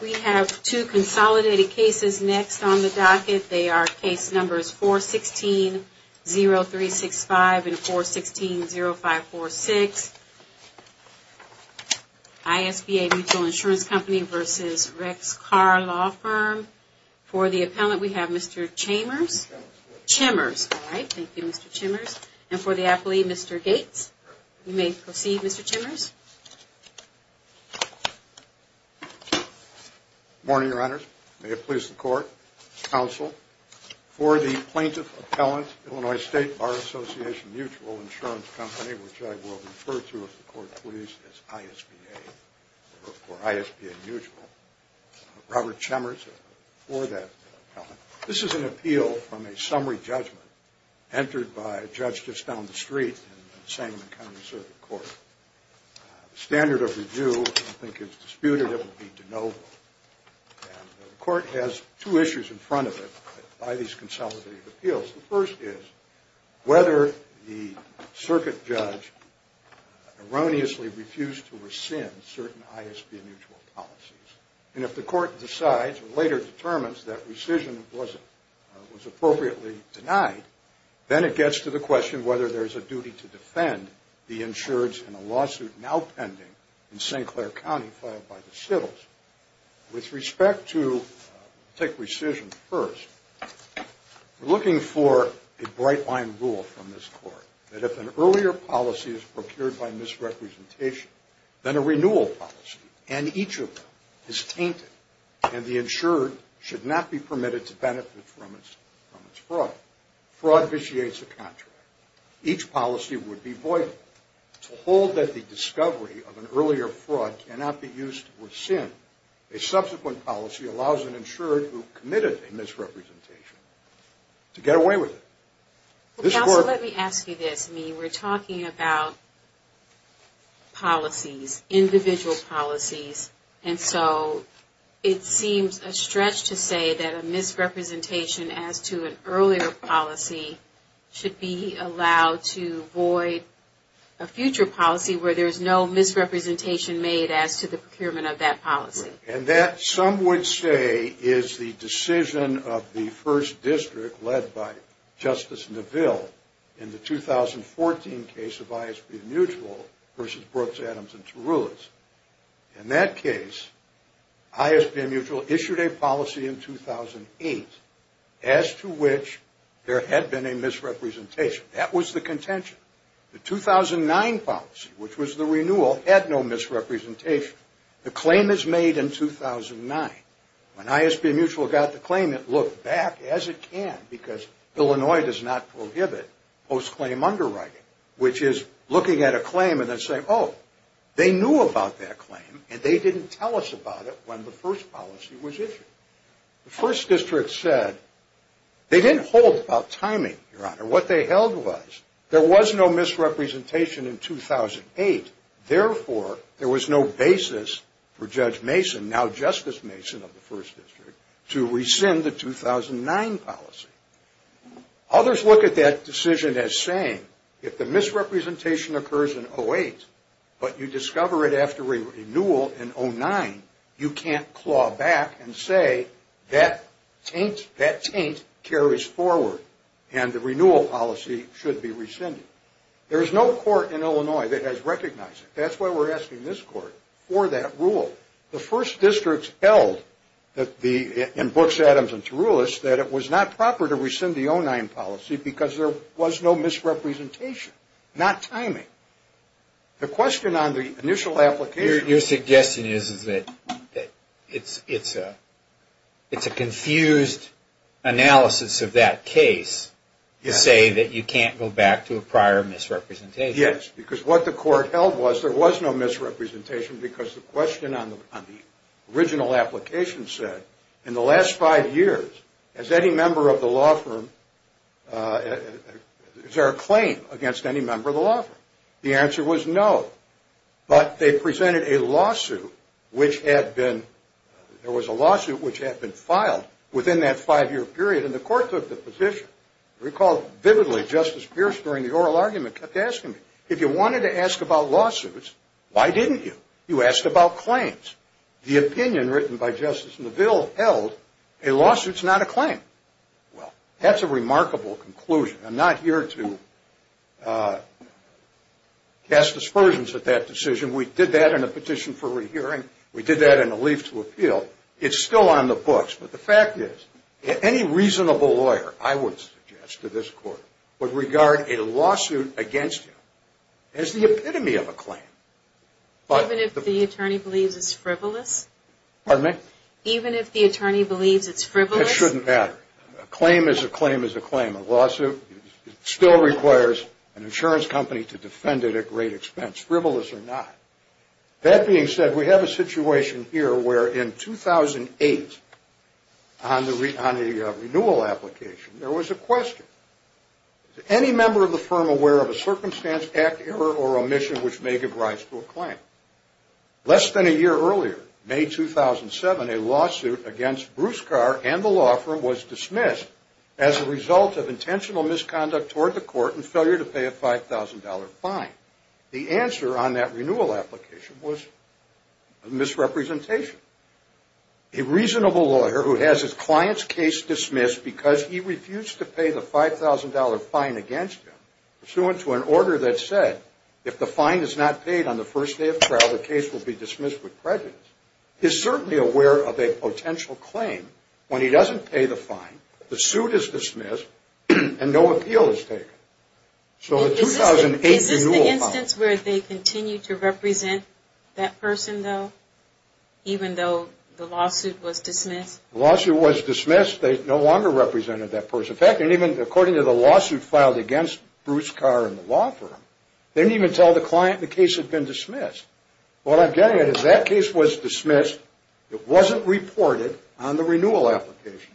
We have two consolidated cases next on the docket. They are case numbers 416-0365 and 416-0546. ISBA Mutual Insurance Company v. Rex Carr Law Firm. For the appellant we have Mr. Chambers. And for the appellee, Mr. Gates. You may proceed, Mr. Chambers. Morning, Your Honors. May it please the Court. Counsel, for the plaintiff appellant, Illinois State Bar Association Mutual Insurance Company, which I will refer to, if the Court pleases, as ISBA or ISBA Mutual, Robert Chambers, for that appellant. This is an appeal from a summary judgment entered by a judge just down the street in the Sangamon County Circuit Court. The standard of review, I think, is disputed. It will be de novo. And the Court has two issues in front of it by these consolidated appeals. The first is whether the circuit judge erroneously refused to rescind certain ISBA mutual policies. And if the Court decides or later determines that rescission was appropriately denied, then it gets to the question whether there is a duty to defend the insureds in a lawsuit now pending in St. Clair County filed by the Sittles. With respect to, we'll take rescission first. We're looking for a bright-line rule from this Court. that if an earlier policy is procured by misrepresentation, then a renewal policy, and each of them, is tainted, and the insured should not be permitted to benefit from its fraud. Fraud vitiates a contract. Each policy would be void. To hold that the discovery of an earlier fraud cannot be used to rescind, a subsequent policy allows an insured who committed a misrepresentation to get away with it. Counsel, let me ask you this. I mean, we're talking about policies, individual policies, and so it seems a stretch to say that a misrepresentation as to an earlier policy should be allowed to void a future policy where there's no misrepresentation made as to the procurement of that policy. And that, some would say, is the decision of the First District led by Justice Neville in the 2014 case of ISP and Mutual versus Brooks, Adams, and Tarullos. In that case, ISP and Mutual issued a policy in 2008 as to which there had been a misrepresentation. That was the contention. The 2009 policy, which was the renewal, had no misrepresentation. The claim is made in 2009. When ISP and Mutual got the claim, it looked back as it can, because Illinois does not prohibit post-claim underwriting, which is looking at a claim and then saying, oh, they knew about that claim, and they didn't tell us about it when the first policy was issued. The First District said they didn't hold about timing, Your Honor. What they held was there was no misrepresentation in 2008. Therefore, there was no basis for Judge Mason, now Justice Mason of the First District, to rescind the 2009 policy. Others look at that decision as saying if the misrepresentation occurs in 08, but you discover it after a renewal in 09, you can't claw back and say that taint carries forward, and the renewal policy should be rescinded. There is no court in Illinois that has recognized it. That's why we're asking this court for that rule. The First District held in Brooks, Adams, and Tarullos that it was not proper to rescind the 09 policy because there was no misrepresentation, not timing. The question on the initial application... Your suggestion is that it's a confused analysis of that case to say that you can't go back to a prior misrepresentation. Yes, because what the court held was there was no misrepresentation because the question on the original application said, in the last five years, has any member of the law firm... is there a claim against any member of the law firm? The answer was no, but they presented a lawsuit which had been... there was a lawsuit which had been filed within that five-year period, and the court took the position. I recall vividly Justice Pierce during the oral argument kept asking me, if you wanted to ask about lawsuits, why didn't you? You asked about claims. The opinion written by Justice Neville held a lawsuit's not a claim. Well, that's a remarkable conclusion. I'm not here to cast aspersions at that decision. We did that in a petition for rehearing. We did that in a leaf to appeal. It's still on the books, but the fact is, any reasonable lawyer, I would suggest to this court, would regard a lawsuit against him as the epitome of a claim. Even if the attorney believes it's frivolous? Pardon me? Even if the attorney believes it's frivolous? That shouldn't matter. A claim is a claim is a claim. A lawsuit still requires an insurance company to defend it at great expense, frivolous or not. That being said, we have a situation here where in 2008, on the renewal application, there was a question. Is any member of the firm aware of a circumstance, act, error, or omission which may give rise to a claim? Less than a year earlier, May 2007, a lawsuit against Bruce Carr and the law firm was dismissed as a result of intentional misconduct toward the court and failure to pay a $5,000 fine. The answer on that renewal application was misrepresentation. A reasonable lawyer who has his client's case dismissed because he refused to pay the $5,000 fine against him, pursuant to an order that said, if the fine is not paid on the first day of trial, the case will be dismissed with prejudice, is certainly aware of a potential claim when he doesn't pay the fine, the suit is dismissed, and no appeal is taken. Is this the instance where they continue to represent that person, though, even though the lawsuit was dismissed? The lawsuit was dismissed. They no longer represented that person. In fact, they didn't even, according to the lawsuit filed against Bruce Carr and the law firm, they didn't even tell the client the case had been dismissed. What I'm getting at is that case was dismissed. It wasn't reported on the renewal application.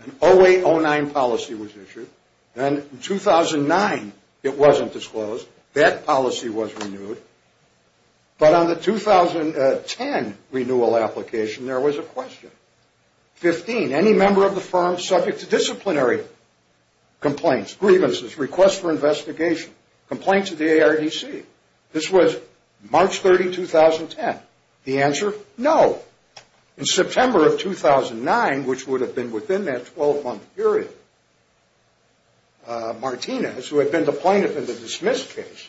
An 08-09 policy was issued. In 2009, it wasn't disclosed. That policy was renewed. But on the 2010 renewal application, there was a question. 15, any member of the firm subject to disciplinary complaints, grievances, requests for investigation, complaint to the ARDC. This was March 30, 2010. The answer, no. In September of 2009, which would have been within that 12-month period, Martinez, who had been the plaintiff in the dismissed case,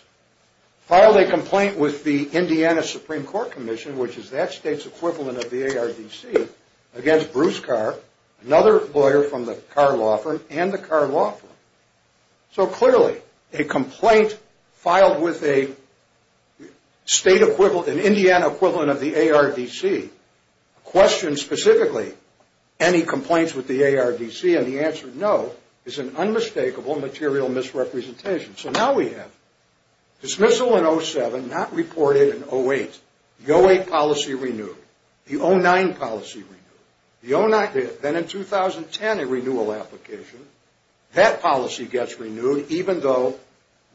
filed a complaint with the Indiana Supreme Court Commission, which is that state's equivalent of the ARDC, against Bruce Carr, another lawyer from the Carr Law Firm, and the Carr Law Firm. So clearly, a complaint filed with a state equivalent, an Indiana equivalent of the ARDC, questions specifically any complaints with the ARDC, and the answer, no, is an unmistakable material misrepresentation. So now we have dismissal in 07, not reported in 08. The 08 policy renewed. The 09 policy renewed. Then in 2010, a renewal application, that policy gets renewed, even though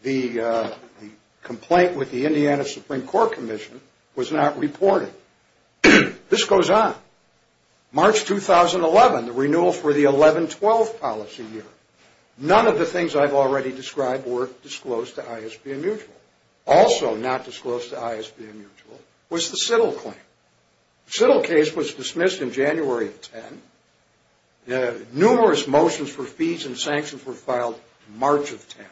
the complaint with the Indiana Supreme Court Commission was not reported. This goes on. March 2011, the renewal for the 11-12 policy year. None of the things I've already described were disclosed to ISB and Mutual. Also not disclosed to ISB and Mutual was the Siddle claim. The Siddle case was dismissed in January of 10. Numerous motions for fees and sanctions were filed in March of 10.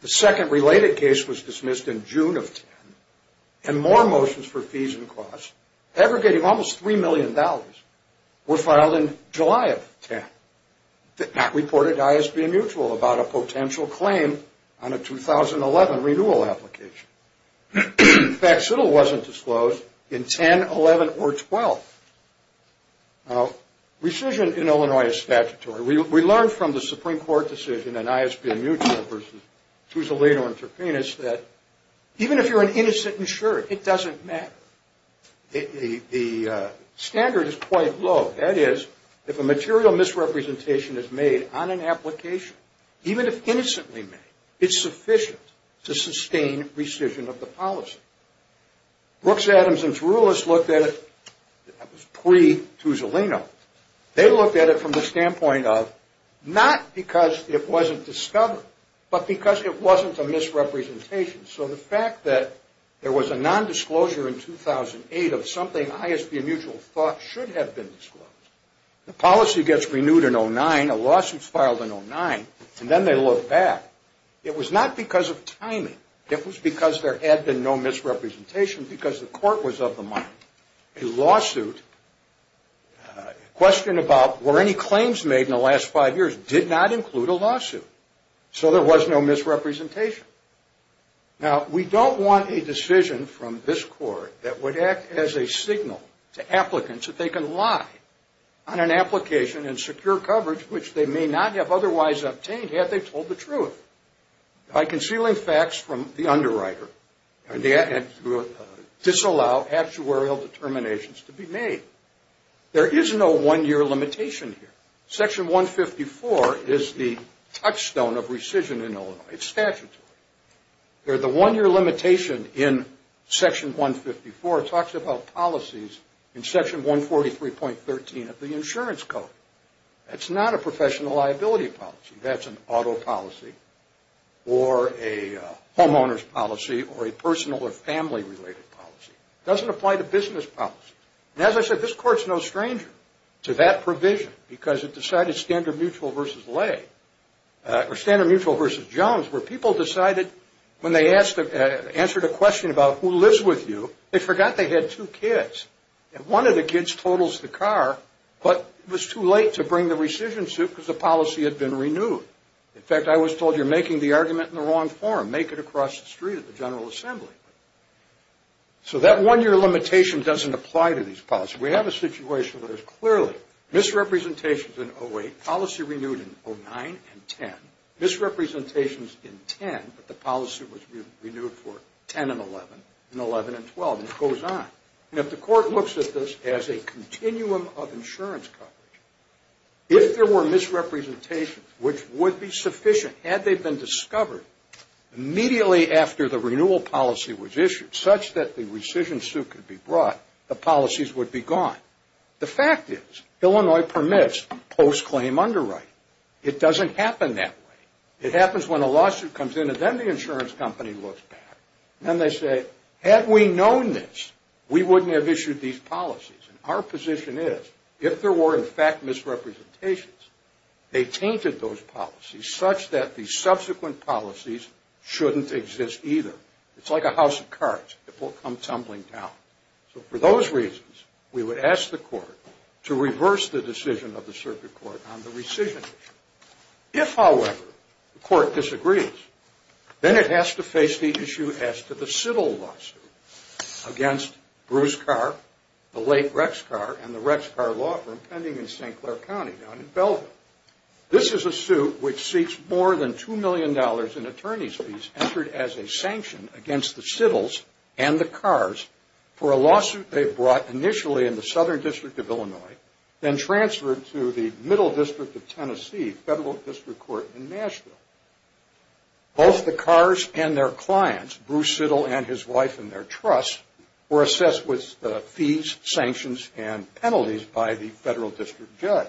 The second related case was dismissed in June of 10. And more motions for fees and costs, aggregating almost $3 million, were filed in July of 10. Not reported to ISB and Mutual about a potential claim on a 2011 renewal application. In fact, Siddle wasn't disclosed in 10, 11, or 12. Now, rescission in Illinois is statutory. We learned from the Supreme Court decision in ISB and Mutual versus Tuzolino and Turpinus that even if you're an innocent insurer, it doesn't matter. The standard is quite low. That is, if a material misrepresentation is made on an application, even if innocently made, it's sufficient to sustain rescission of the policy. Brooks Adamson's Rulers looked at it, that was pre-Tuzolino, they looked at it from the standpoint of not because it wasn't discovered, but because it wasn't a misrepresentation. So the fact that there was a nondisclosure in 2008 of something ISB and Mutual thought should have been disclosed, the policy gets renewed in 2009, a lawsuit is filed in 2009, and then they look back. It was not because of timing. It was because there had been no misrepresentation because the court was of the mind. A lawsuit, a question about were any claims made in the last five years did not include a lawsuit. So there was no misrepresentation. Now, we don't want a decision from this court that would act as a signal to applicants that they can lie on an application in secure coverage which they may not have otherwise obtained had they told the truth by concealing facts from the underwriter and disallow actuarial determinations to be made. There is no one-year limitation here. Section 154 is the touchstone of rescission in Illinois. It's statutory. The one-year limitation in Section 154 talks about policies in Section 143.13 of the Insurance Code. That's not a professional liability policy. That's an auto policy or a homeowner's policy or a personal or family-related policy. It doesn't apply to business policies. Now, as I said, this court's no stranger to that provision because it decided Standard Mutual versus Lay or Standard Mutual versus Jones where people decided when they answered a question about who lives with you, they forgot they had two kids. And one of the kids totals the car, but it was too late to bring the rescission suit because the policy had been renewed. In fact, I was told you're making the argument in the wrong form. Make it across the street at the General Assembly. So that one-year limitation doesn't apply to these policies. We have a situation where there's clearly misrepresentations in 08, policy renewed in 09 and 10, misrepresentations in 10, but the policy was renewed for 10 and 11 and 11 and 12, and it goes on. And if the court looks at this as a continuum of insurance coverage, if there were misrepresentations which would be sufficient had they been discovered immediately after the renewal policy was issued, such that the rescission suit could be brought, the policies would be gone. The fact is Illinois permits post-claim underwriting. It doesn't happen that way. It happens when a lawsuit comes in and then the insurance company looks back. Then they say, had we known this, we wouldn't have issued these policies. And our position is if there were, in fact, misrepresentations, they tainted those policies such that the subsequent policies shouldn't exist either. It's like a house of cards. It will come tumbling down. So for those reasons, we would ask the court to reverse the decision of the circuit court on the rescission issue. If, however, the court disagrees, then it has to face the issue as to the Siddle lawsuit against Bruce Carr, the late Rex Carr, and the Rex Carr law firm pending in St. Clair County down in Belvoir. This is a suit which seeks more than $2 million in attorney's fees entered as a sanction against the Siddles and the Carrs for a lawsuit they brought initially in the Southern District of Illinois, then transferred to the Middle District of Tennessee Federal District Court in Nashville. Both the Carrs and their clients, Bruce Siddle and his wife and their trust, were assessed with fees, sanctions, and penalties by the federal district judge.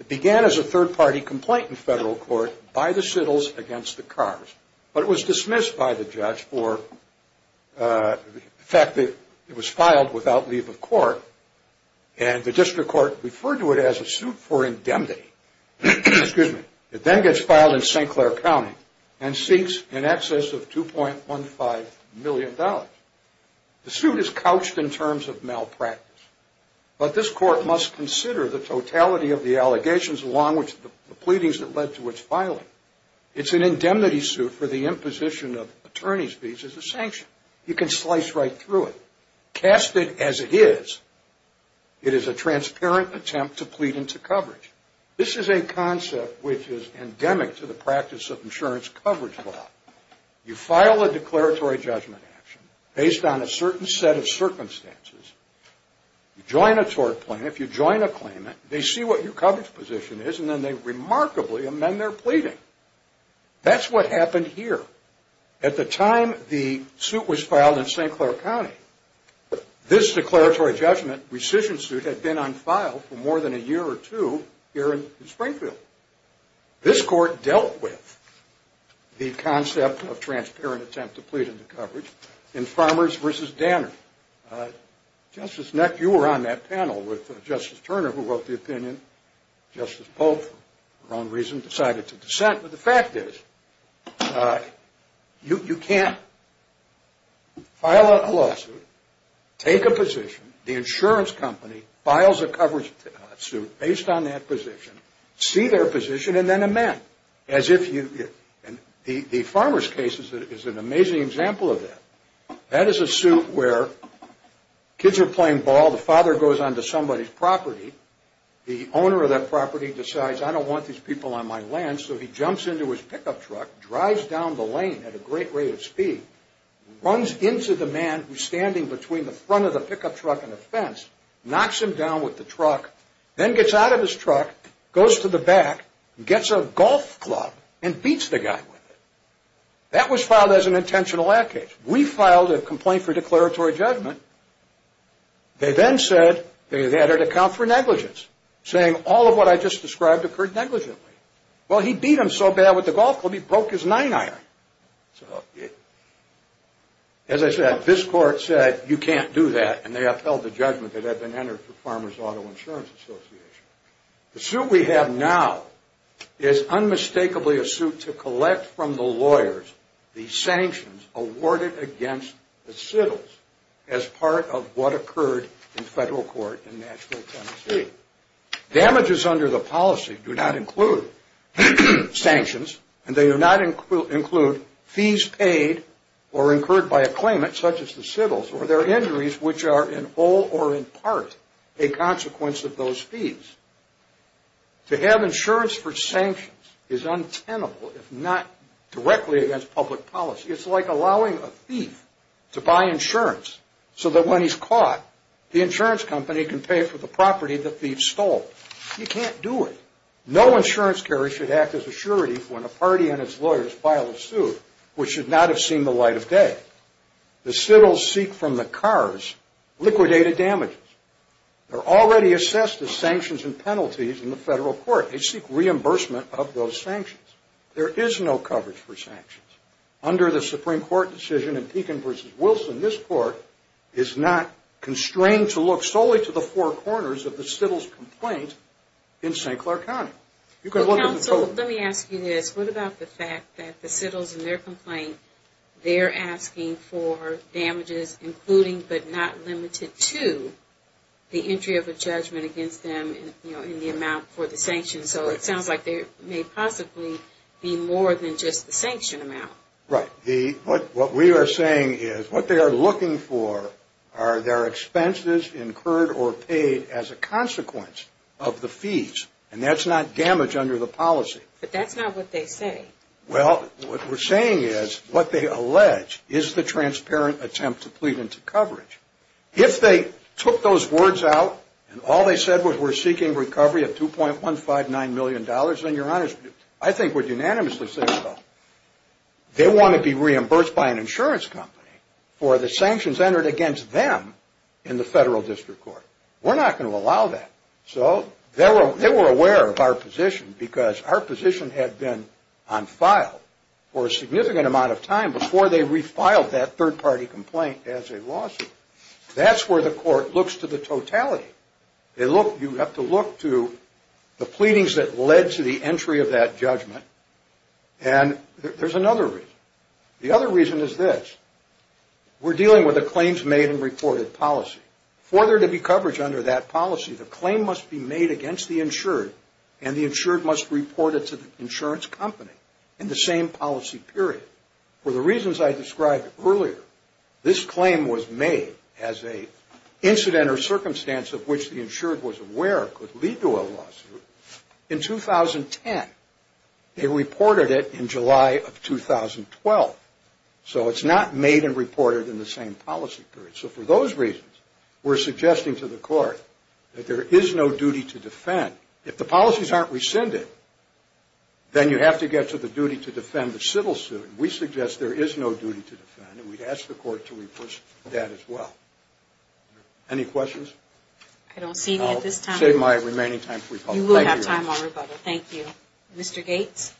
It began as a third-party complaint in federal court by the Siddles against the Carrs, but it was dismissed by the judge for the fact that it was filed without leave of court, and the district court referred to it as a suit for indemnity. It then gets filed in St. Clair County and seeks in excess of $2.15 million. The suit is couched in terms of malpractice, but this court must consider the totality of the allegations along with the pleadings that led to its filing. It's an indemnity suit for the imposition of attorney's fees as a sanction. You can slice right through it. Cast it as it is, it is a transparent attempt to plead into coverage. This is a concept which is endemic to the practice of insurance coverage law. You file a declaratory judgment action based on a certain set of circumstances. You join a tort plan. If you join a claimant, they see what your coverage position is, and then they remarkably amend their pleading. That's what happened here. At the time the suit was filed in St. Clair County, this declaratory judgment rescission suit had been on file for more than a year or two here in Springfield. This court dealt with the concept of transparent attempt to plead into coverage in Farmers v. Danner. Justice Neck, you were on that panel with Justice Turner, who wrote the opinion. Justice Polk, for her own reason, decided to dissent. But the fact is, you can't file a lawsuit, take a position, the insurance company files a coverage suit based on that position, see their position, and then amend. The Farmers case is an amazing example of that. That is a suit where kids are playing ball. The father goes onto somebody's property. The owner of that property decides, I don't want these people on my land, so he jumps into his pickup truck, drives down the lane at a great rate of speed, runs into the man who's standing between the front of the pickup truck and the fence, knocks him down with the truck, then gets out of his truck, goes to the back, gets a golf club, and beats the guy with it. That was filed as an intentional act case. We filed a complaint for declaratory judgment. They then said they had had to account for negligence, saying all of what I just described occurred negligently. Well, he beat him so bad with the golf club, he broke his nine iron. As I said, this court said you can't do that, and they upheld the judgment that had been entered for Farmers Auto Insurance Association. The suit we have now is unmistakably a suit to collect from the lawyers the sanctions awarded against the Sittles as part of what occurred in federal court in Nashville, Tennessee. Damages under the policy do not include sanctions, and they do not include fees paid or incurred by a claimant, such as the Sittles, or their injuries, which are in all or in part a consequence of those fees. To have insurance for sanctions is untenable if not directly against public policy. It's like allowing a thief to buy insurance so that when he's caught, the insurance company can pay for the property the thief stole. You can't do it. No insurance carrier should act as a surety when a party and its lawyers file a suit, which should not have seen the light of day. The Sittles seek from the cars liquidated damages. They're already assessed as sanctions and penalties in the federal court. They seek reimbursement of those sanctions. There is no coverage for sanctions. Under the Supreme Court decision in Pekin v. Wilson, this court is not constrained to look solely to the four corners of the Sittles complaint in St. Clair County. You can look at the total. Well, counsel, let me ask you this. What about the fact that the Sittles in their complaint, they're asking for damages including but not limited to the entry of a judgment against them in the amount for the sanctions? So it sounds like there may possibly be more than just the sanction amount. Right. What we are saying is what they are looking for are their expenses incurred or paid as a consequence of the fees, and that's not damage under the policy. But that's not what they say. Well, what we're saying is what they allege is the transparent attempt to plead into coverage. If they took those words out and all they said was we're seeking recovery of $2.159 million, then, Your Honor, I think would unanimously say so. They want to be reimbursed by an insurance company for the sanctions entered against them in the federal district court. We're not going to allow that. So they were aware of our position because our position had been on file for a significant amount of time before they refiled that third-party complaint as a lawsuit. That's where the court looks to the totality. You have to look to the pleadings that led to the entry of that judgment, and there's another reason. The other reason is this. We're dealing with a claims made and reported policy. For there to be coverage under that policy, the claim must be made against the insured and the insured must report it to the insurance company in the same policy period. For the reasons I described earlier, this claim was made as an incident or circumstance of which the insured was aware could lead to a lawsuit in 2010. They reported it in July of 2012. So it's not made and reported in the same policy period. So for those reasons, we're suggesting to the court that there is no duty to defend. If the policies aren't rescinded, then you have to get to the duty to defend the civil suit. We suggest there is no duty to defend, and we'd ask the court to enforce that as well. Any questions? I don't see any at this time. I'll save my remaining time for rebuttal. You will have time for rebuttal. Thank you. Mr. Gates?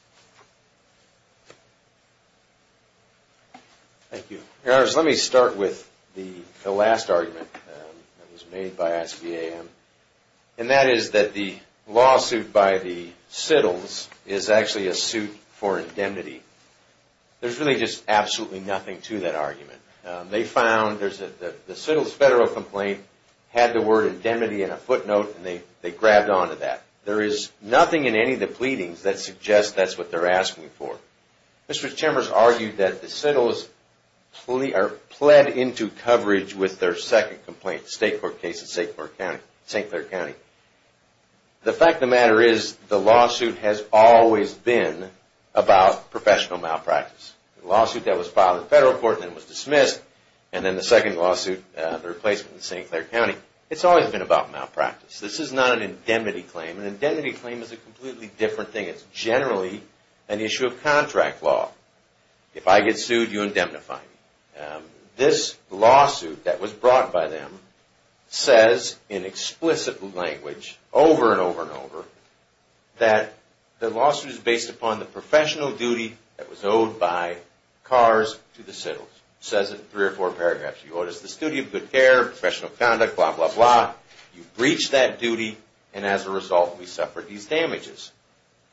Thank you. Your Honors, let me start with the last argument that was made by SBAM, and that is that the lawsuit by the Sittles is actually a suit for indemnity. There's really just absolutely nothing to that argument. They found the Sittles federal complaint had the word indemnity in a footnote, and they grabbed onto that. There is nothing in any of the pleadings that suggests that's what they're asking for. Mr. Chambers argued that the Sittles pled into coverage with their second complaint, the state court case in St. Clair County. The fact of the matter is the lawsuit has always been about professional malpractice. The lawsuit that was filed in federal court and then was dismissed, and then the second lawsuit, the replacement in St. Clair County, it's always been about malpractice. This is not an indemnity claim. An indemnity claim is a completely different thing. It's generally an issue of contract law. If I get sued, you indemnify me. This lawsuit that was brought by them says in explicit language over and over and over that the lawsuit is based upon the professional duty that was owed by Kars to the Sittles. It says it in three or four paragraphs. You owed us this duty of good care, professional conduct, blah, blah, blah. You breached that duty, and as a result, we suffered these damages.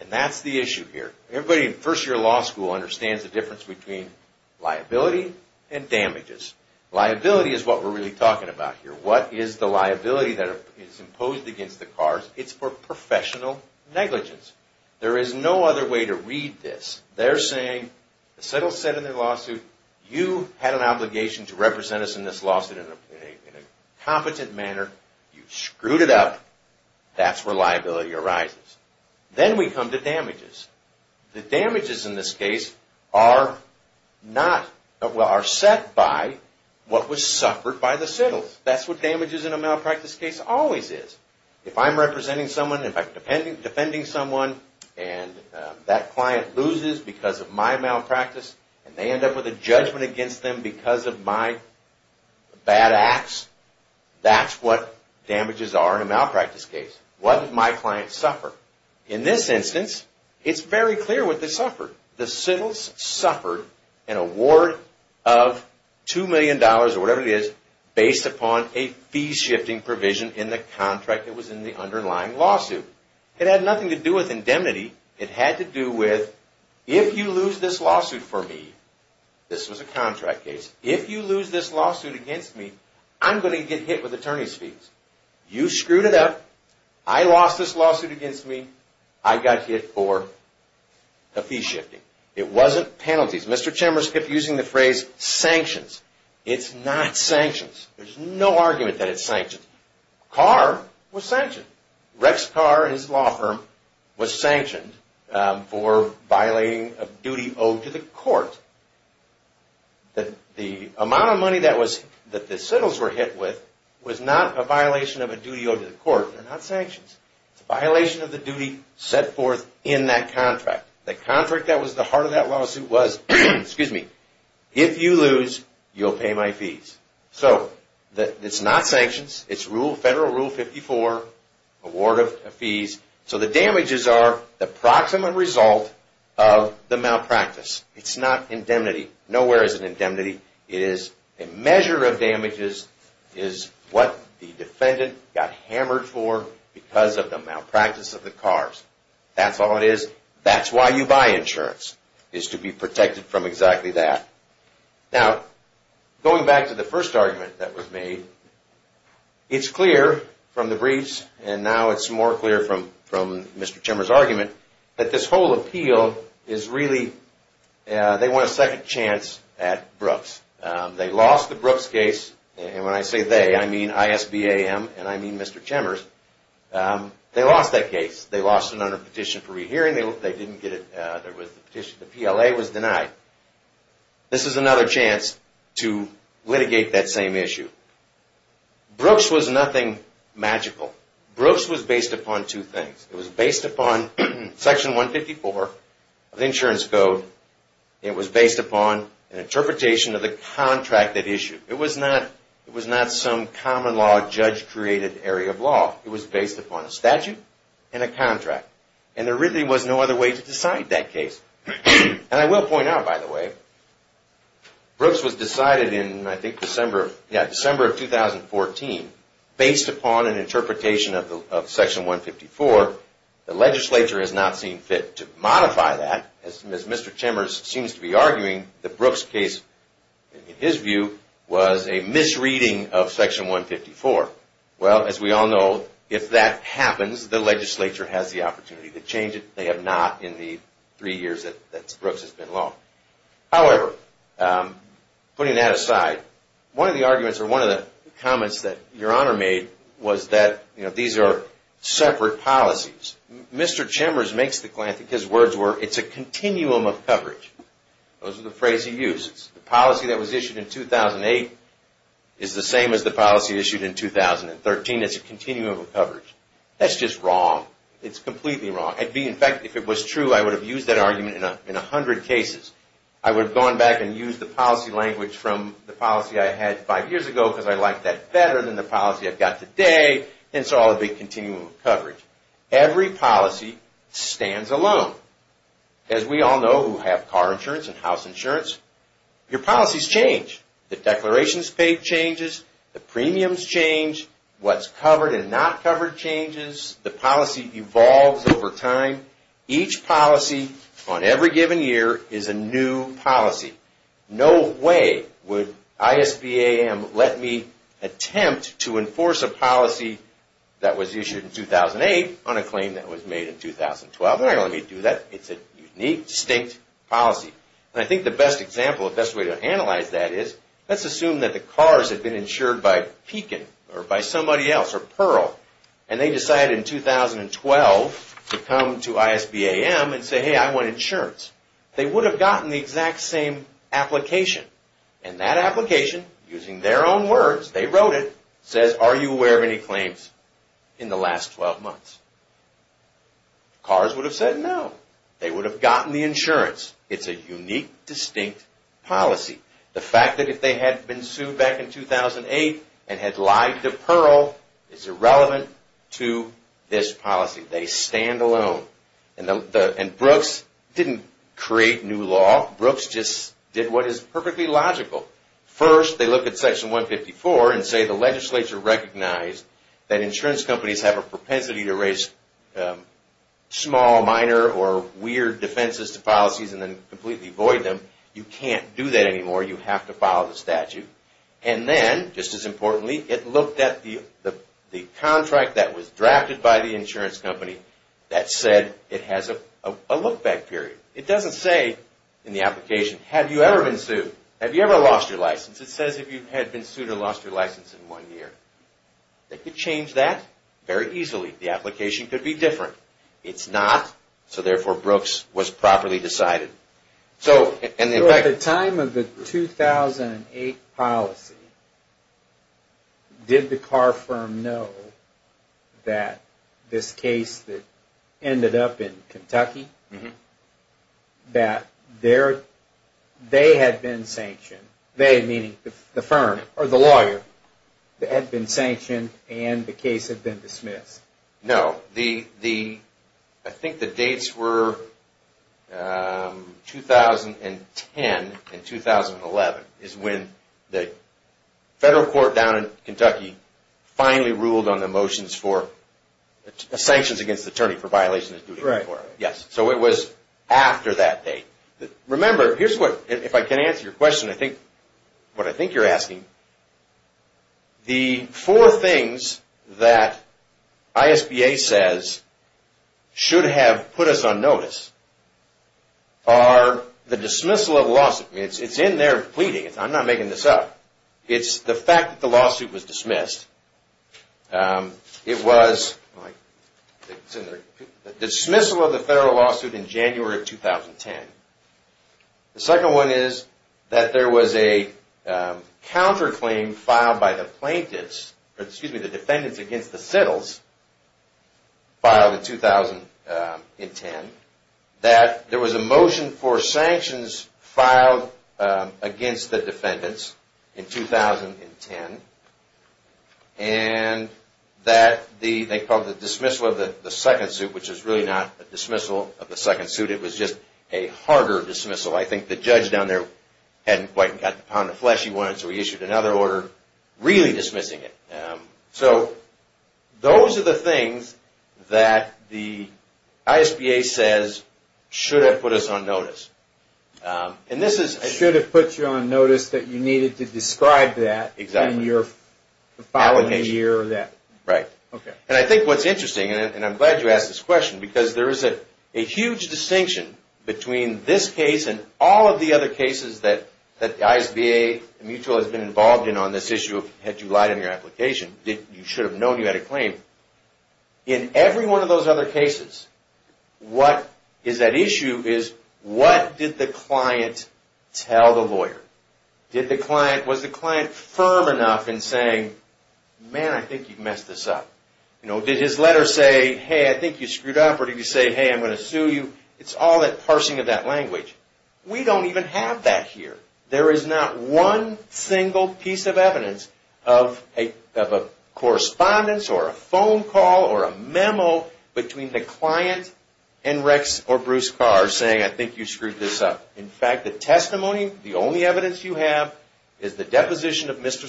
That's the issue here. Everybody in first-year law school understands the difference between liability and damages. Liability is what we're really talking about here. What is the liability that is imposed against the Kars? It's for professional negligence. There is no other way to read this. They're saying the Sittles said in their lawsuit, you had an obligation to represent us in this lawsuit in a competent manner. You screwed it up. That's where liability arises. Then we come to damages. The damages in this case are set by what was suffered by the Sittles. That's what damages in a malpractice case always is. If I'm representing someone, if I'm defending someone, and that client loses because of my malpractice, and they end up with a judgment against them because of my bad acts, that's what damages are in a malpractice case. What did my client suffer? In this instance, it's very clear what they suffered. The Sittles suffered an award of $2 million, or whatever it is, based upon a fee-shifting provision in the contract that was in the underlying lawsuit. It had nothing to do with indemnity. It had to do with, if you lose this lawsuit for me, this was a contract case, if you lose this lawsuit against me, I'm going to get hit with attorney's fees. You screwed it up. I lost this lawsuit against me. I got hit for a fee-shifting. It wasn't penalties. Mr. Chambers kept using the phrase sanctions. It's not sanctions. There's no argument that it's sanctions. A car was sanctioned. Rex Carr and his law firm was sanctioned for violating a duty owed to the court. The amount of money that the Sittles were hit with was not a violation of a duty owed to the court. They're not sanctions. It's a violation of the duty set forth in that contract. The contract that was the heart of that lawsuit was, if you lose, you'll pay my fees. It's not sanctions. It's Federal Rule 54, award of fees. The damages are the proximate result of the malpractice. It's not indemnity. Nowhere is it indemnity. It is a measure of damages. It is what the defendant got hammered for because of the malpractice of the cars. That's all it is. That's why you buy insurance, is to be protected from exactly that. Now, going back to the first argument that was made, it's clear from the briefs, and now it's more clear from Mr. Chemer's argument, that this whole appeal is really, they want a second chance at Brooks. They lost the Brooks case. And when I say they, I mean ISBAM and I mean Mr. Chemer's. They lost that case. They lost it under petition for rehearing. They didn't get it. The PLA was denied. This is another chance to litigate that same issue. Brooks was nothing magical. Brooks was based upon two things. It was based upon Section 154 of the Insurance Code. It was based upon an interpretation of the contract that issued. It was not some common-law, judge-created area of law. It was based upon a statute and a contract. And there really was no other way to decide that case. And I will point out, by the way, Brooks was decided in, I think, December of 2014, based upon an interpretation of Section 154. The legislature has not seen fit to modify that. As Mr. Chemer seems to be arguing, the Brooks case, in his view, was a misreading of Section 154. Well, as we all know, if that happens, the legislature has the opportunity to change it. They have not in the three years that Brooks has been law. However, putting that aside, one of the arguments or one of the comments that Your Honor made was that these are separate policies. Mr. Chemer makes the claim, I think his words were, it's a continuum of coverage. Those are the phrases he uses. The policy that was issued in 2008 is the same as the policy issued in 2013. It's a continuum of coverage. That's just wrong. It's completely wrong. In fact, if it was true, I would have used that argument in a hundred cases. I would have gone back and used the policy language from the policy I had five years ago because I liked that better than the policy I've got today. Hence, all of the continuum of coverage. Every policy stands alone. As we all know who have car insurance and house insurance, your policies change. The declarations paid changes. The premiums change. What's covered and not covered changes. The policy evolves over time. Each policy on every given year is a new policy. No way would ISBAM let me attempt to enforce a policy that was issued in 2008 on a claim that was made in 2012. They don't let me do that. It's a unique, distinct policy. I think the best example, the best way to analyze that is, let's assume that the cars have been insured by Pekin or by somebody else or Pearl and they decide in 2012 to come to ISBAM and say, hey, I want insurance. They would have gotten the exact same application. And that application, using their own words, they wrote it, says, are you aware of any claims in the last 12 months? Cars would have said no. They would have gotten the insurance. It's a unique, distinct policy. The fact that if they had been sued back in 2008 and had lied to Pearl is irrelevant to this policy. They stand alone. And Brooks didn't create new law. Brooks just did what is perfectly logical. First, they look at Section 154 and say the legislature recognized that insurance companies have a propensity to raise small, minor, or weird defenses to policies and then completely void them. You can't do that anymore. You have to follow the statute. And then, just as importantly, it looked at the contract that was drafted by the insurance company that said it has a look-back period. It doesn't say in the application, have you ever been sued? Have you ever lost your license? It says if you had been sued or lost your license in one year. They could change that very easily. The application could be different. It's not, so therefore Brooks was properly decided. At the time of the 2008 policy, did the car firm know that this case that ended up in Kentucky, that they had been sanctioned, they meaning the firm or the lawyer, had been sanctioned and the case had been dismissed? No. I think the dates were 2010 and 2011 is when the federal court down in Kentucky finally ruled on the motions for sanctions against the attorney for violations of duty of court. So it was after that date. Remember, here's what, if I can answer your question, what I think you're asking. The four things that ISBA says should have put us on notice are the dismissal of the lawsuit. It's in there pleading. I'm not making this up. It's the fact that the lawsuit was dismissed. It was the dismissal of the federal lawsuit in January of 2010. The second one is that there was a counterclaim filed by the plaintiffs, excuse me, the defendants against the settles filed in 2010. That there was a motion for sanctions filed against the defendants in 2010. And that they called the dismissal of the second suit, which is really not a dismissal of the second suit. It was just a harder dismissal. I think the judge down there hadn't quite gotten the pound of flesh he wanted, so he issued another order really dismissing it. So those are the things that the ISBA says should have put us on notice. Should have put you on notice that you needed to describe that in your filing of the year or that. Right. And I think what's interesting, and I'm glad you asked this question, because there is a huge distinction between this case and all of the other cases that the ISBA and Mutual has been involved in on this issue, had you lied in your application. You should have known you had a claim. In every one of those other cases, what is at issue is what did the client tell the lawyer? Was the client firm enough in saying, man, I think you've messed this up? Did his letter say, hey, I think you screwed up? Or did he say, hey, I'm going to sue you? It's all that parsing of that language. We don't even have that here. There is not one single piece of evidence of a correspondence or a phone call or a memo between the client and Rex or Bruce Carr saying, I think you screwed this up. In fact, the testimony, the only evidence you have is the deposition of Mr.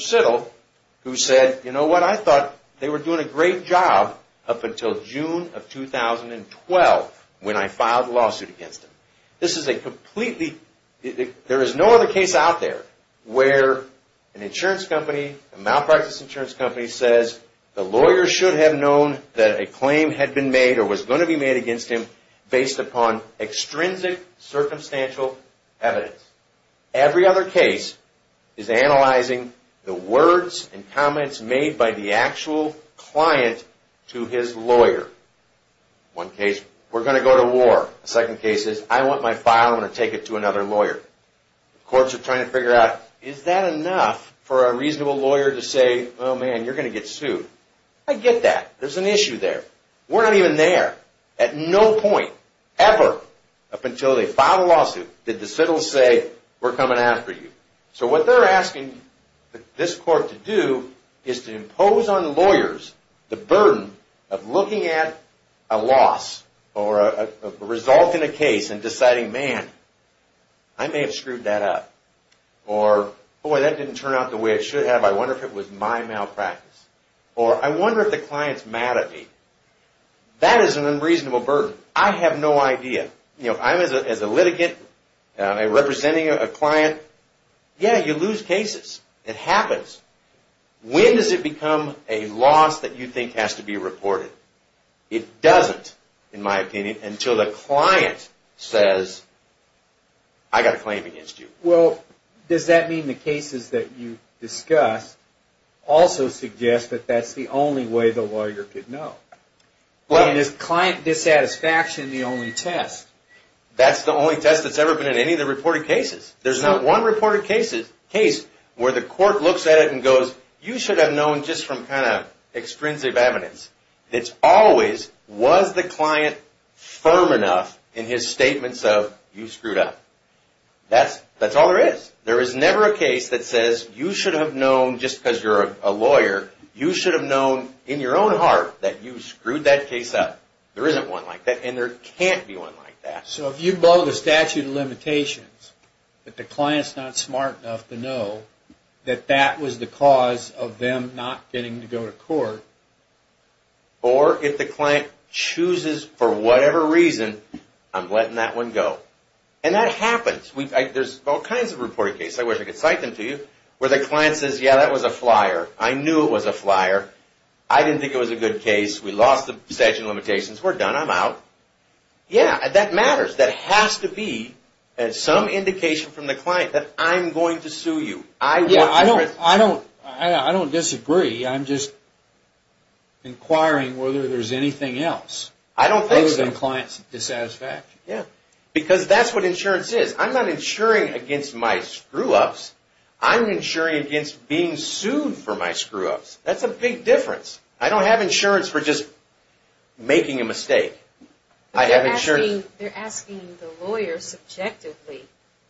until June of 2012 when I filed a lawsuit against him. There is no other case out there where an insurance company, a malpractice insurance company says the lawyer should have known that a claim had been made or was going to be made against him based upon extrinsic circumstantial evidence. Every other case is analyzing the words and comments made by the actual client to his lawyer. One case, we're going to go to war. The second case is, I want my file and I'm going to take it to another lawyer. Courts are trying to figure out, is that enough for a reasonable lawyer to say, oh, man, you're going to get sued? I get that. There's an issue there. We're not even there. At no point ever up until they filed a lawsuit did the citils say, we're coming after you. What they're asking this court to do is to impose on lawyers the burden of looking at a loss or a result in a case and deciding, man, I may have screwed that up. Or, boy, that didn't turn out the way it should have. I wonder if it was my malpractice. Or, I wonder if the client's mad at me. That is an unreasonable burden. I have no idea. As a litigant, representing a client, yeah, you lose cases. It happens. When does it become a loss that you think has to be reported? It doesn't, in my opinion, until the client says, I got a claim against you. Well, does that mean the cases that you discuss also suggest that that's the only way the lawyer could know? Is client dissatisfaction the only test? That's the only test that's ever been in any of the reported cases. There's not one reported case where the court looks at it and goes, you should have known just from kind of extrinsic evidence. It's always, was the client firm enough in his statements of, you screwed up? That's all there is. There is never a case that says, you should have known just because you're a You screwed that case up. There isn't one like that, and there can't be one like that. So if you blow the statute of limitations that the client's not smart enough to know that that was the cause of them not getting to go to court, or if the client chooses for whatever reason, I'm letting that one go. And that happens. There's all kinds of reported cases, I wish I could cite them to you, where the client says, yeah, that was a flyer. I knew it was a flyer. I didn't think it was a good case. We lost the statute of limitations. We're done. I'm out. Yeah, that matters. That has to be some indication from the client that I'm going to sue you. Yeah, I don't disagree. I'm just inquiring whether there's anything else other than the client's dissatisfaction. Yeah, because that's what insurance is. I'm not insuring against my screw-ups. I'm insuring against being sued for my screw-ups. That's a big difference. I don't have insurance for just making a mistake. They're asking the lawyer subjectively,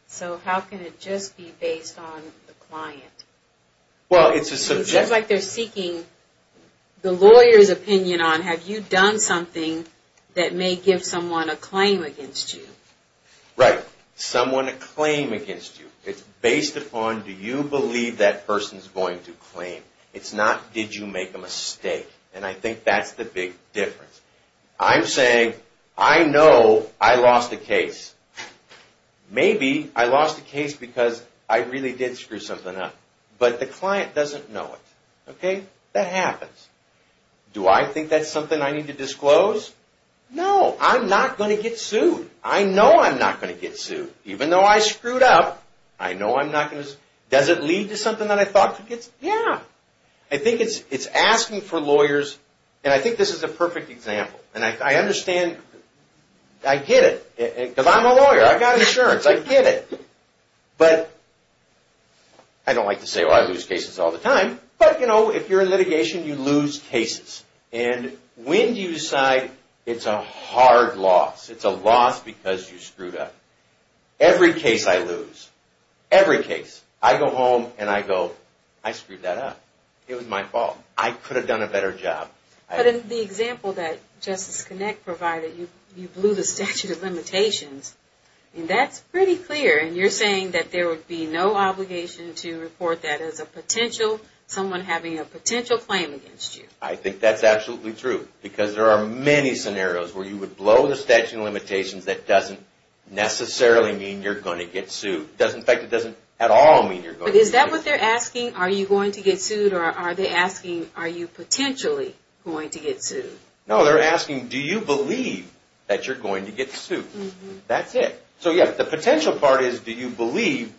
so how can it just be based on the client? Well, it's a subjective... It's like they're seeking the lawyer's opinion on, have you done something that may give someone a claim against you? Right. Someone a claim against you. It's based upon, do you believe that person's going to claim? It's not, did you make a mistake? I think that's the big difference. I'm saying, I know I lost a case. Maybe I lost a case because I really did screw something up, but the client doesn't know it. That happens. Do I think that's something I need to disclose? No, I'm not going to get sued. I know I'm not going to get sued. Even though I screwed up, I know I'm not going to... Does it lead to something that I thought could get sued? Yeah. I think it's asking for lawyers, and I think this is a perfect example. I understand, I get it, because I'm a lawyer. I've got insurance. I get it. I don't like to say, I lose cases all the time, but if you're in litigation, you lose cases. When do you decide it's a hard loss? It's a loss because you screwed up? Every case I lose. Every case. I go home, and I go, I screwed that up. It was my fault. I could have done a better job. But in the example that Justice Connick provided, you blew the statute of limitations, and that's pretty clear, and you're saying that there would be no obligation to report that as someone having a potential claim against you. I think that's absolutely true, because there are many scenarios where you would blow the statute of limitations that doesn't necessarily mean you're going to get sued. In fact, it doesn't at all mean you're going to get sued. But is that what they're asking? Are you going to get sued? Or are they asking, are you potentially going to get sued? No, they're asking, do you believe that you're going to get sued? That's it. So, yes, the potential part is, do you believe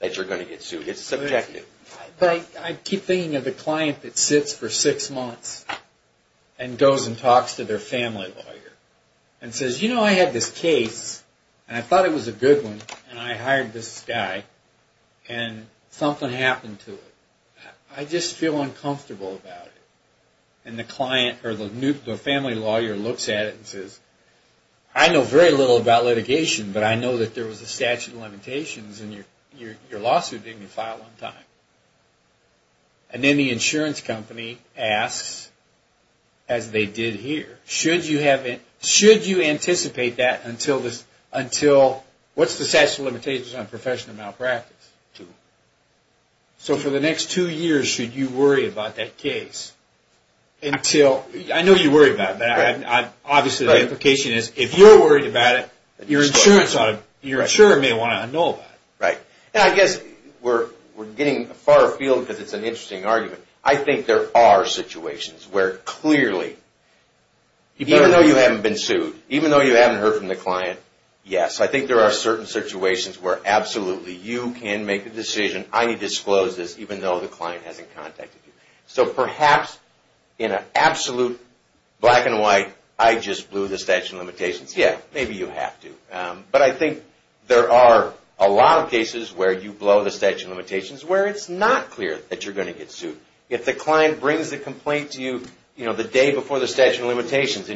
that you're going to get sued? It's subjective. I keep thinking of the client that sits for six months and goes and talks to their family lawyer and says, you know, I had this case, and I thought it was a good case, and I hired this guy, and something happened to it. I just feel uncomfortable about it. And the client or the family lawyer looks at it and says, I know very little about litigation, but I know that there was a statute of limitations in your lawsuit that you filed one time. And then the insurance company asks, as they did here, should you anticipate that until, what's the statute of limitations on professional malpractice? Two. So for the next two years, should you worry about that case until, I know you worry about that. Obviously, the implication is, if you're worried about it, your insurer may want to know about it. Right. And I guess we're getting far afield because it's an interesting argument. I think there are situations where clearly, even though you haven't been sued, even though you haven't heard from the client, yes, I think there are certain situations where absolutely you can make the decision, I need to disclose this, even though the client hasn't contacted you. So perhaps in an absolute black and white, I just blew the statute of limitations. Yeah, maybe you have to. But I think there are a lot of cases where you blow the statute of limitations where it's not clear that you're going to get sued. And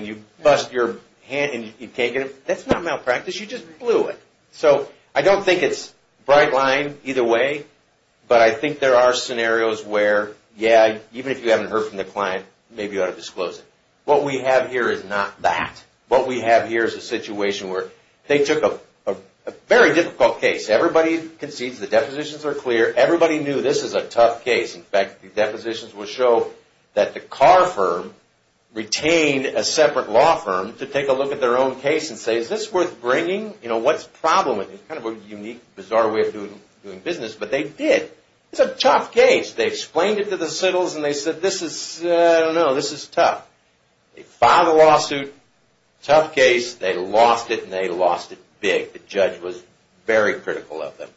you bust your hand and you can't get it. That's not malpractice. You just blew it. So I don't think it's a bright line either way, but I think there are scenarios where, yeah, even if you haven't heard from the client, maybe you ought to disclose it. What we have here is not that. What we have here is a situation where they took a very difficult case. Everybody concedes the depositions are clear. Everybody knew this is a tough case. In fact, the depositions will show that the car firm retained a separate law firm to take a look at their own case and say, is this worth bringing? What's the problem with it? It's kind of a unique, bizarre way of doing business. But they did. It's a tough case. They explained it to the settles and they said, I don't know, this is tough. They filed a lawsuit. Tough case. They lost it and they lost it big. The judge was very critical of them.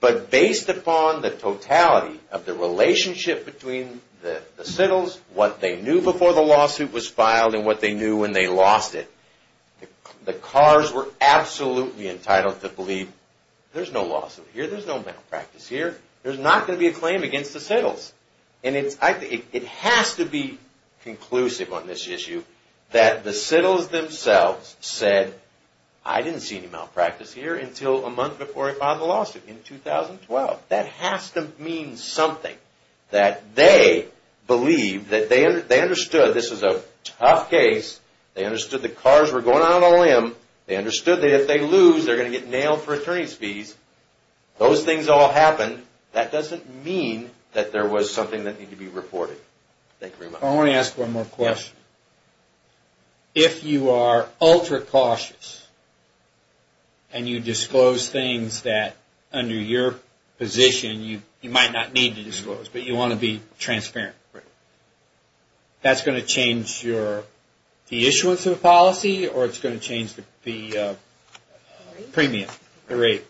But based upon the totality of the relationship between the settles, what they knew before the lawsuit was filed and what they knew when they lost it, the cars were absolutely entitled to believe there's no lawsuit here. There's no malpractice here. There's not going to be a claim against the settles. It has to be conclusive on this issue that the settles themselves said, I didn't see any malpractice here until a month before I filed the lawsuit in 2012. That has to mean something that they believed that they understood this is a tough case. They understood the cars were going out on a limb. They understood that if they lose, they're going to get nailed for attorney's fees. Those things all happened. That doesn't mean that there was something that needed to be reported. Thank you very much. I want to ask one more question. If you are ultra-cautious and you disclose things that under your position you might not need to disclose, but you want to be transparent, that's going to change the issuance of the policy or it's going to change the premium rate?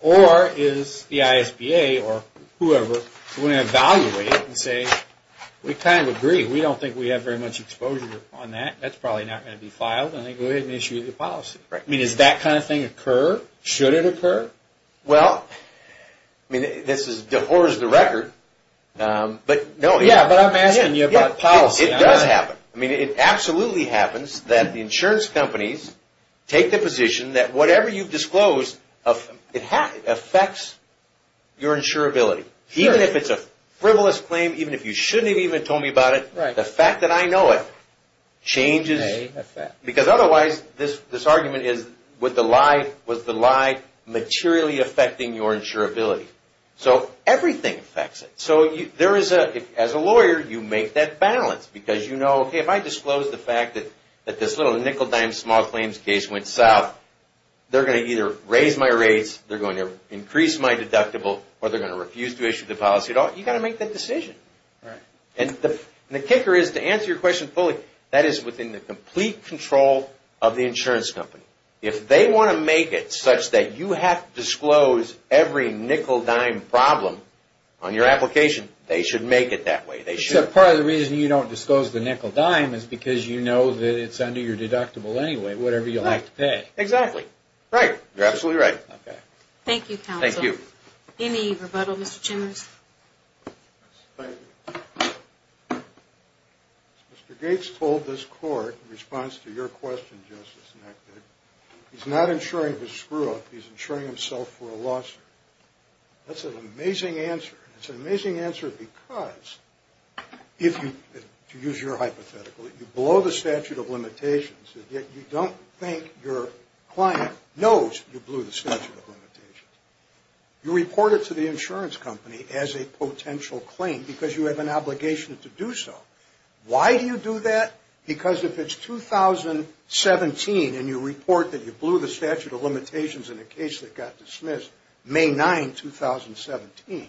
Or is the ISBA or whoever going to evaluate and say, we kind of agree. We don't think we have very much exposure on that. That's probably not going to be filed. They go ahead and issue the policy. Does that kind of thing occur? Should it occur? Well, this is the horror of the record. Yeah, but I'm asking you about policy. It does happen. It absolutely happens that the insurance companies take the position that whatever you've disclosed affects your insurability. Even if it's a frivolous claim, even if you shouldn't have even told me about it, the fact that I know it changes. Because otherwise, this argument is, was the lie materially affecting your insurability? So everything affects it. As a lawyer, you make that balance because you know, okay, if I disclose the policy, they're going to either raise my rates, they're going to increase my deductible, or they're going to refuse to issue the policy at all. You've got to make that decision. And the kicker is, to answer your question fully, that is within the complete control of the insurance company. If they want to make it such that you have to disclose every nickel-dime problem on your application, they should make it that way. Part of the reason you don't disclose the nickel-dime is because you know that it's under your deductible anyway, whatever you like to pay. Exactly. Right. You're absolutely right. Okay. Thank you, counsel. Thank you. Any rebuttal, Mr. Chimmers? Thank you. Mr. Gates told this court in response to your question, Justice Nectar, he's not insuring his screw-up, he's insuring himself for a lawsuit. That's an amazing answer. It's an amazing answer because, if you, to use your hypothetical, you blow the statute of limitations, yet you don't think your client knows you blew the statute of limitations. You report it to the insurance company as a potential claim because you have an obligation to do so. Why do you do that? Because if it's 2017 and you report that you blew the statute of limitations in a case that got dismissed May 9, 2017,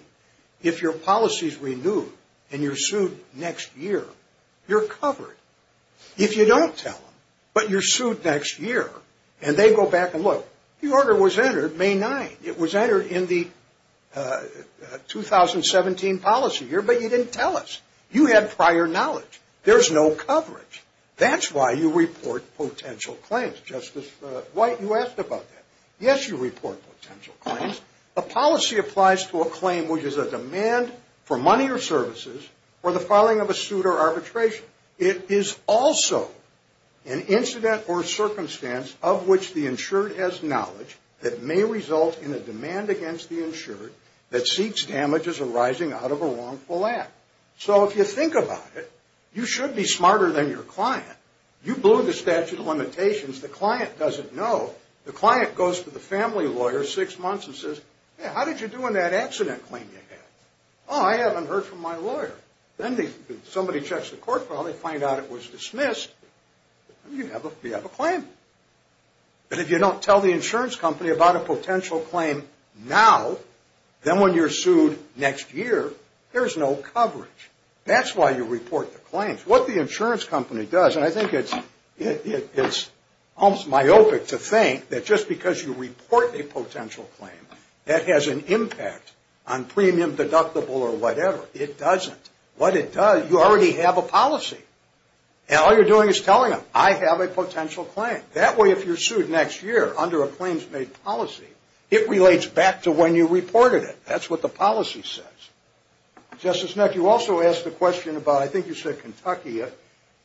if your policy's renewed and you're going to tell them, if you don't tell them, but you're sued next year, and they go back and look, the order was entered May 9. It was entered in the 2017 policy year, but you didn't tell us. You had prior knowledge. There's no coverage. That's why you report potential claims. Justice White, you asked about that. Yes, you report potential claims. A policy applies to a claim which is a demand for money or services for the filing of a suit or arbitration. It is also an incident or circumstance of which the insured has knowledge that may result in a demand against the insured that seeks damages arising out of a wrongful act. So if you think about it, you should be smarter than your client. You blew the statute of limitations. The client doesn't know. The client goes to the family lawyer six months and says, how did you do on that accident claim you had? Oh, I haven't heard from my lawyer. Then somebody checks the court file. They find out it was dismissed. You have a claim. But if you don't tell the insurance company about a potential claim now, then when you're sued next year, there's no coverage. That's why you report the claims. What the insurance company does, and I think it's almost myopic to think that just because you report a potential claim, that has an impact on premium, deductible, or whatever. It doesn't. What it does, you already have a policy. And all you're doing is telling them, I have a potential claim. That way, if you're sued next year under a claims-made policy, it relates back to when you reported it. That's what the policy says. Justice Neck, you also asked a question about, I think you said Kentucky,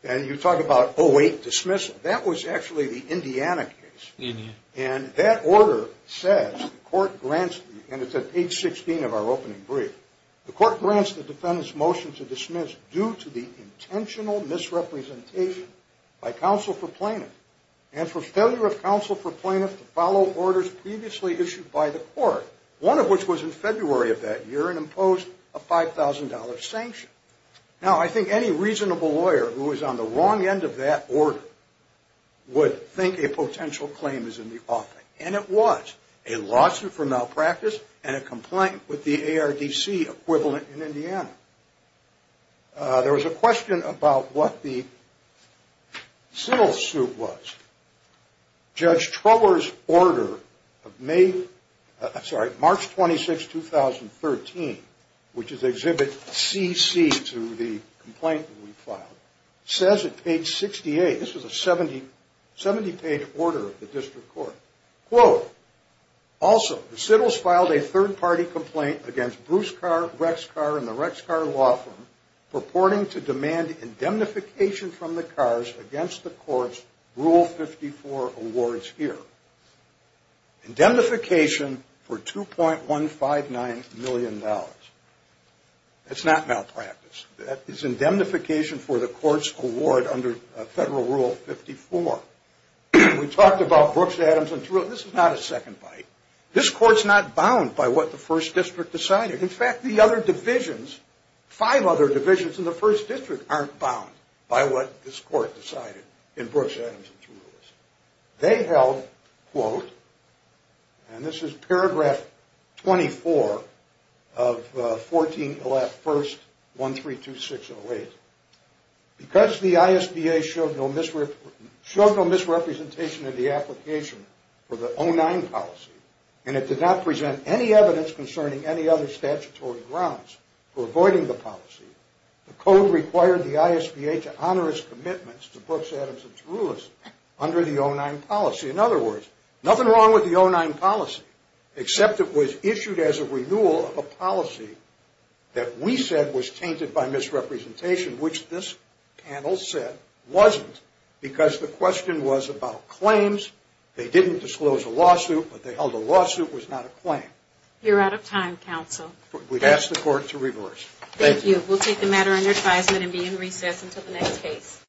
and you talk about 08 dismissal. That was actually the Indiana case. And that order says the court grants, and it's at page 16 of our opening brief, the court grants the defendant's motion to dismiss due to the intentional misrepresentation by counsel for plaintiff and for failure of counsel for plaintiff to follow orders previously issued by the court, one of which was in February of that year and imposed a $5,000 sanction. Now, I think any reasonable lawyer who is on the wrong end of that order would think a potential claim is in the offing. And it was a lawsuit for malpractice and a complaint with the ARDC equivalent in Indiana. There was a question about what the civil suit was. Judge Trower's order of March 26, 2013, which is exhibit CC to the complaint that we filed, says at page 68, this is a 70-page order of the district court, quote, also, the Sittles filed a third-party complaint against Bruce Rexcar and the Rexcar law firm purporting to demand indemnification from the cars against the court's Rule 54 awards here. Indemnification for $2.159 million. That's not malpractice. That is indemnification for the court's award under Federal Rule 54. We talked about Brooks, Adams, and Trulis. This is not a second bite. This court's not bound by what the first district decided. In fact, the other divisions, five other divisions in the first district aren't bound by what this court decided in Brooks, Adams, and Trulis. They held, quote, and this is paragraph 24 of 14.1.132608, because the ISBA showed no misrepresentation of the application for the 09 policy and it did not present any evidence concerning any other statutory grounds for avoiding the policy, the code required the ISBA to honor its commitments to Brooks, Adams, and Trulis under the 09 policy. In other words, nothing wrong with the 09 policy, except it was issued as a renewal of a policy that we said was tainted by misrepresentation, which this panel said wasn't, because the question was about claims. They didn't disclose a lawsuit, but they held a lawsuit was not a claim. You're out of time, counsel. We'd ask the court to reverse. Thank you. We'll take the matter under advisement and be in recess until the next case.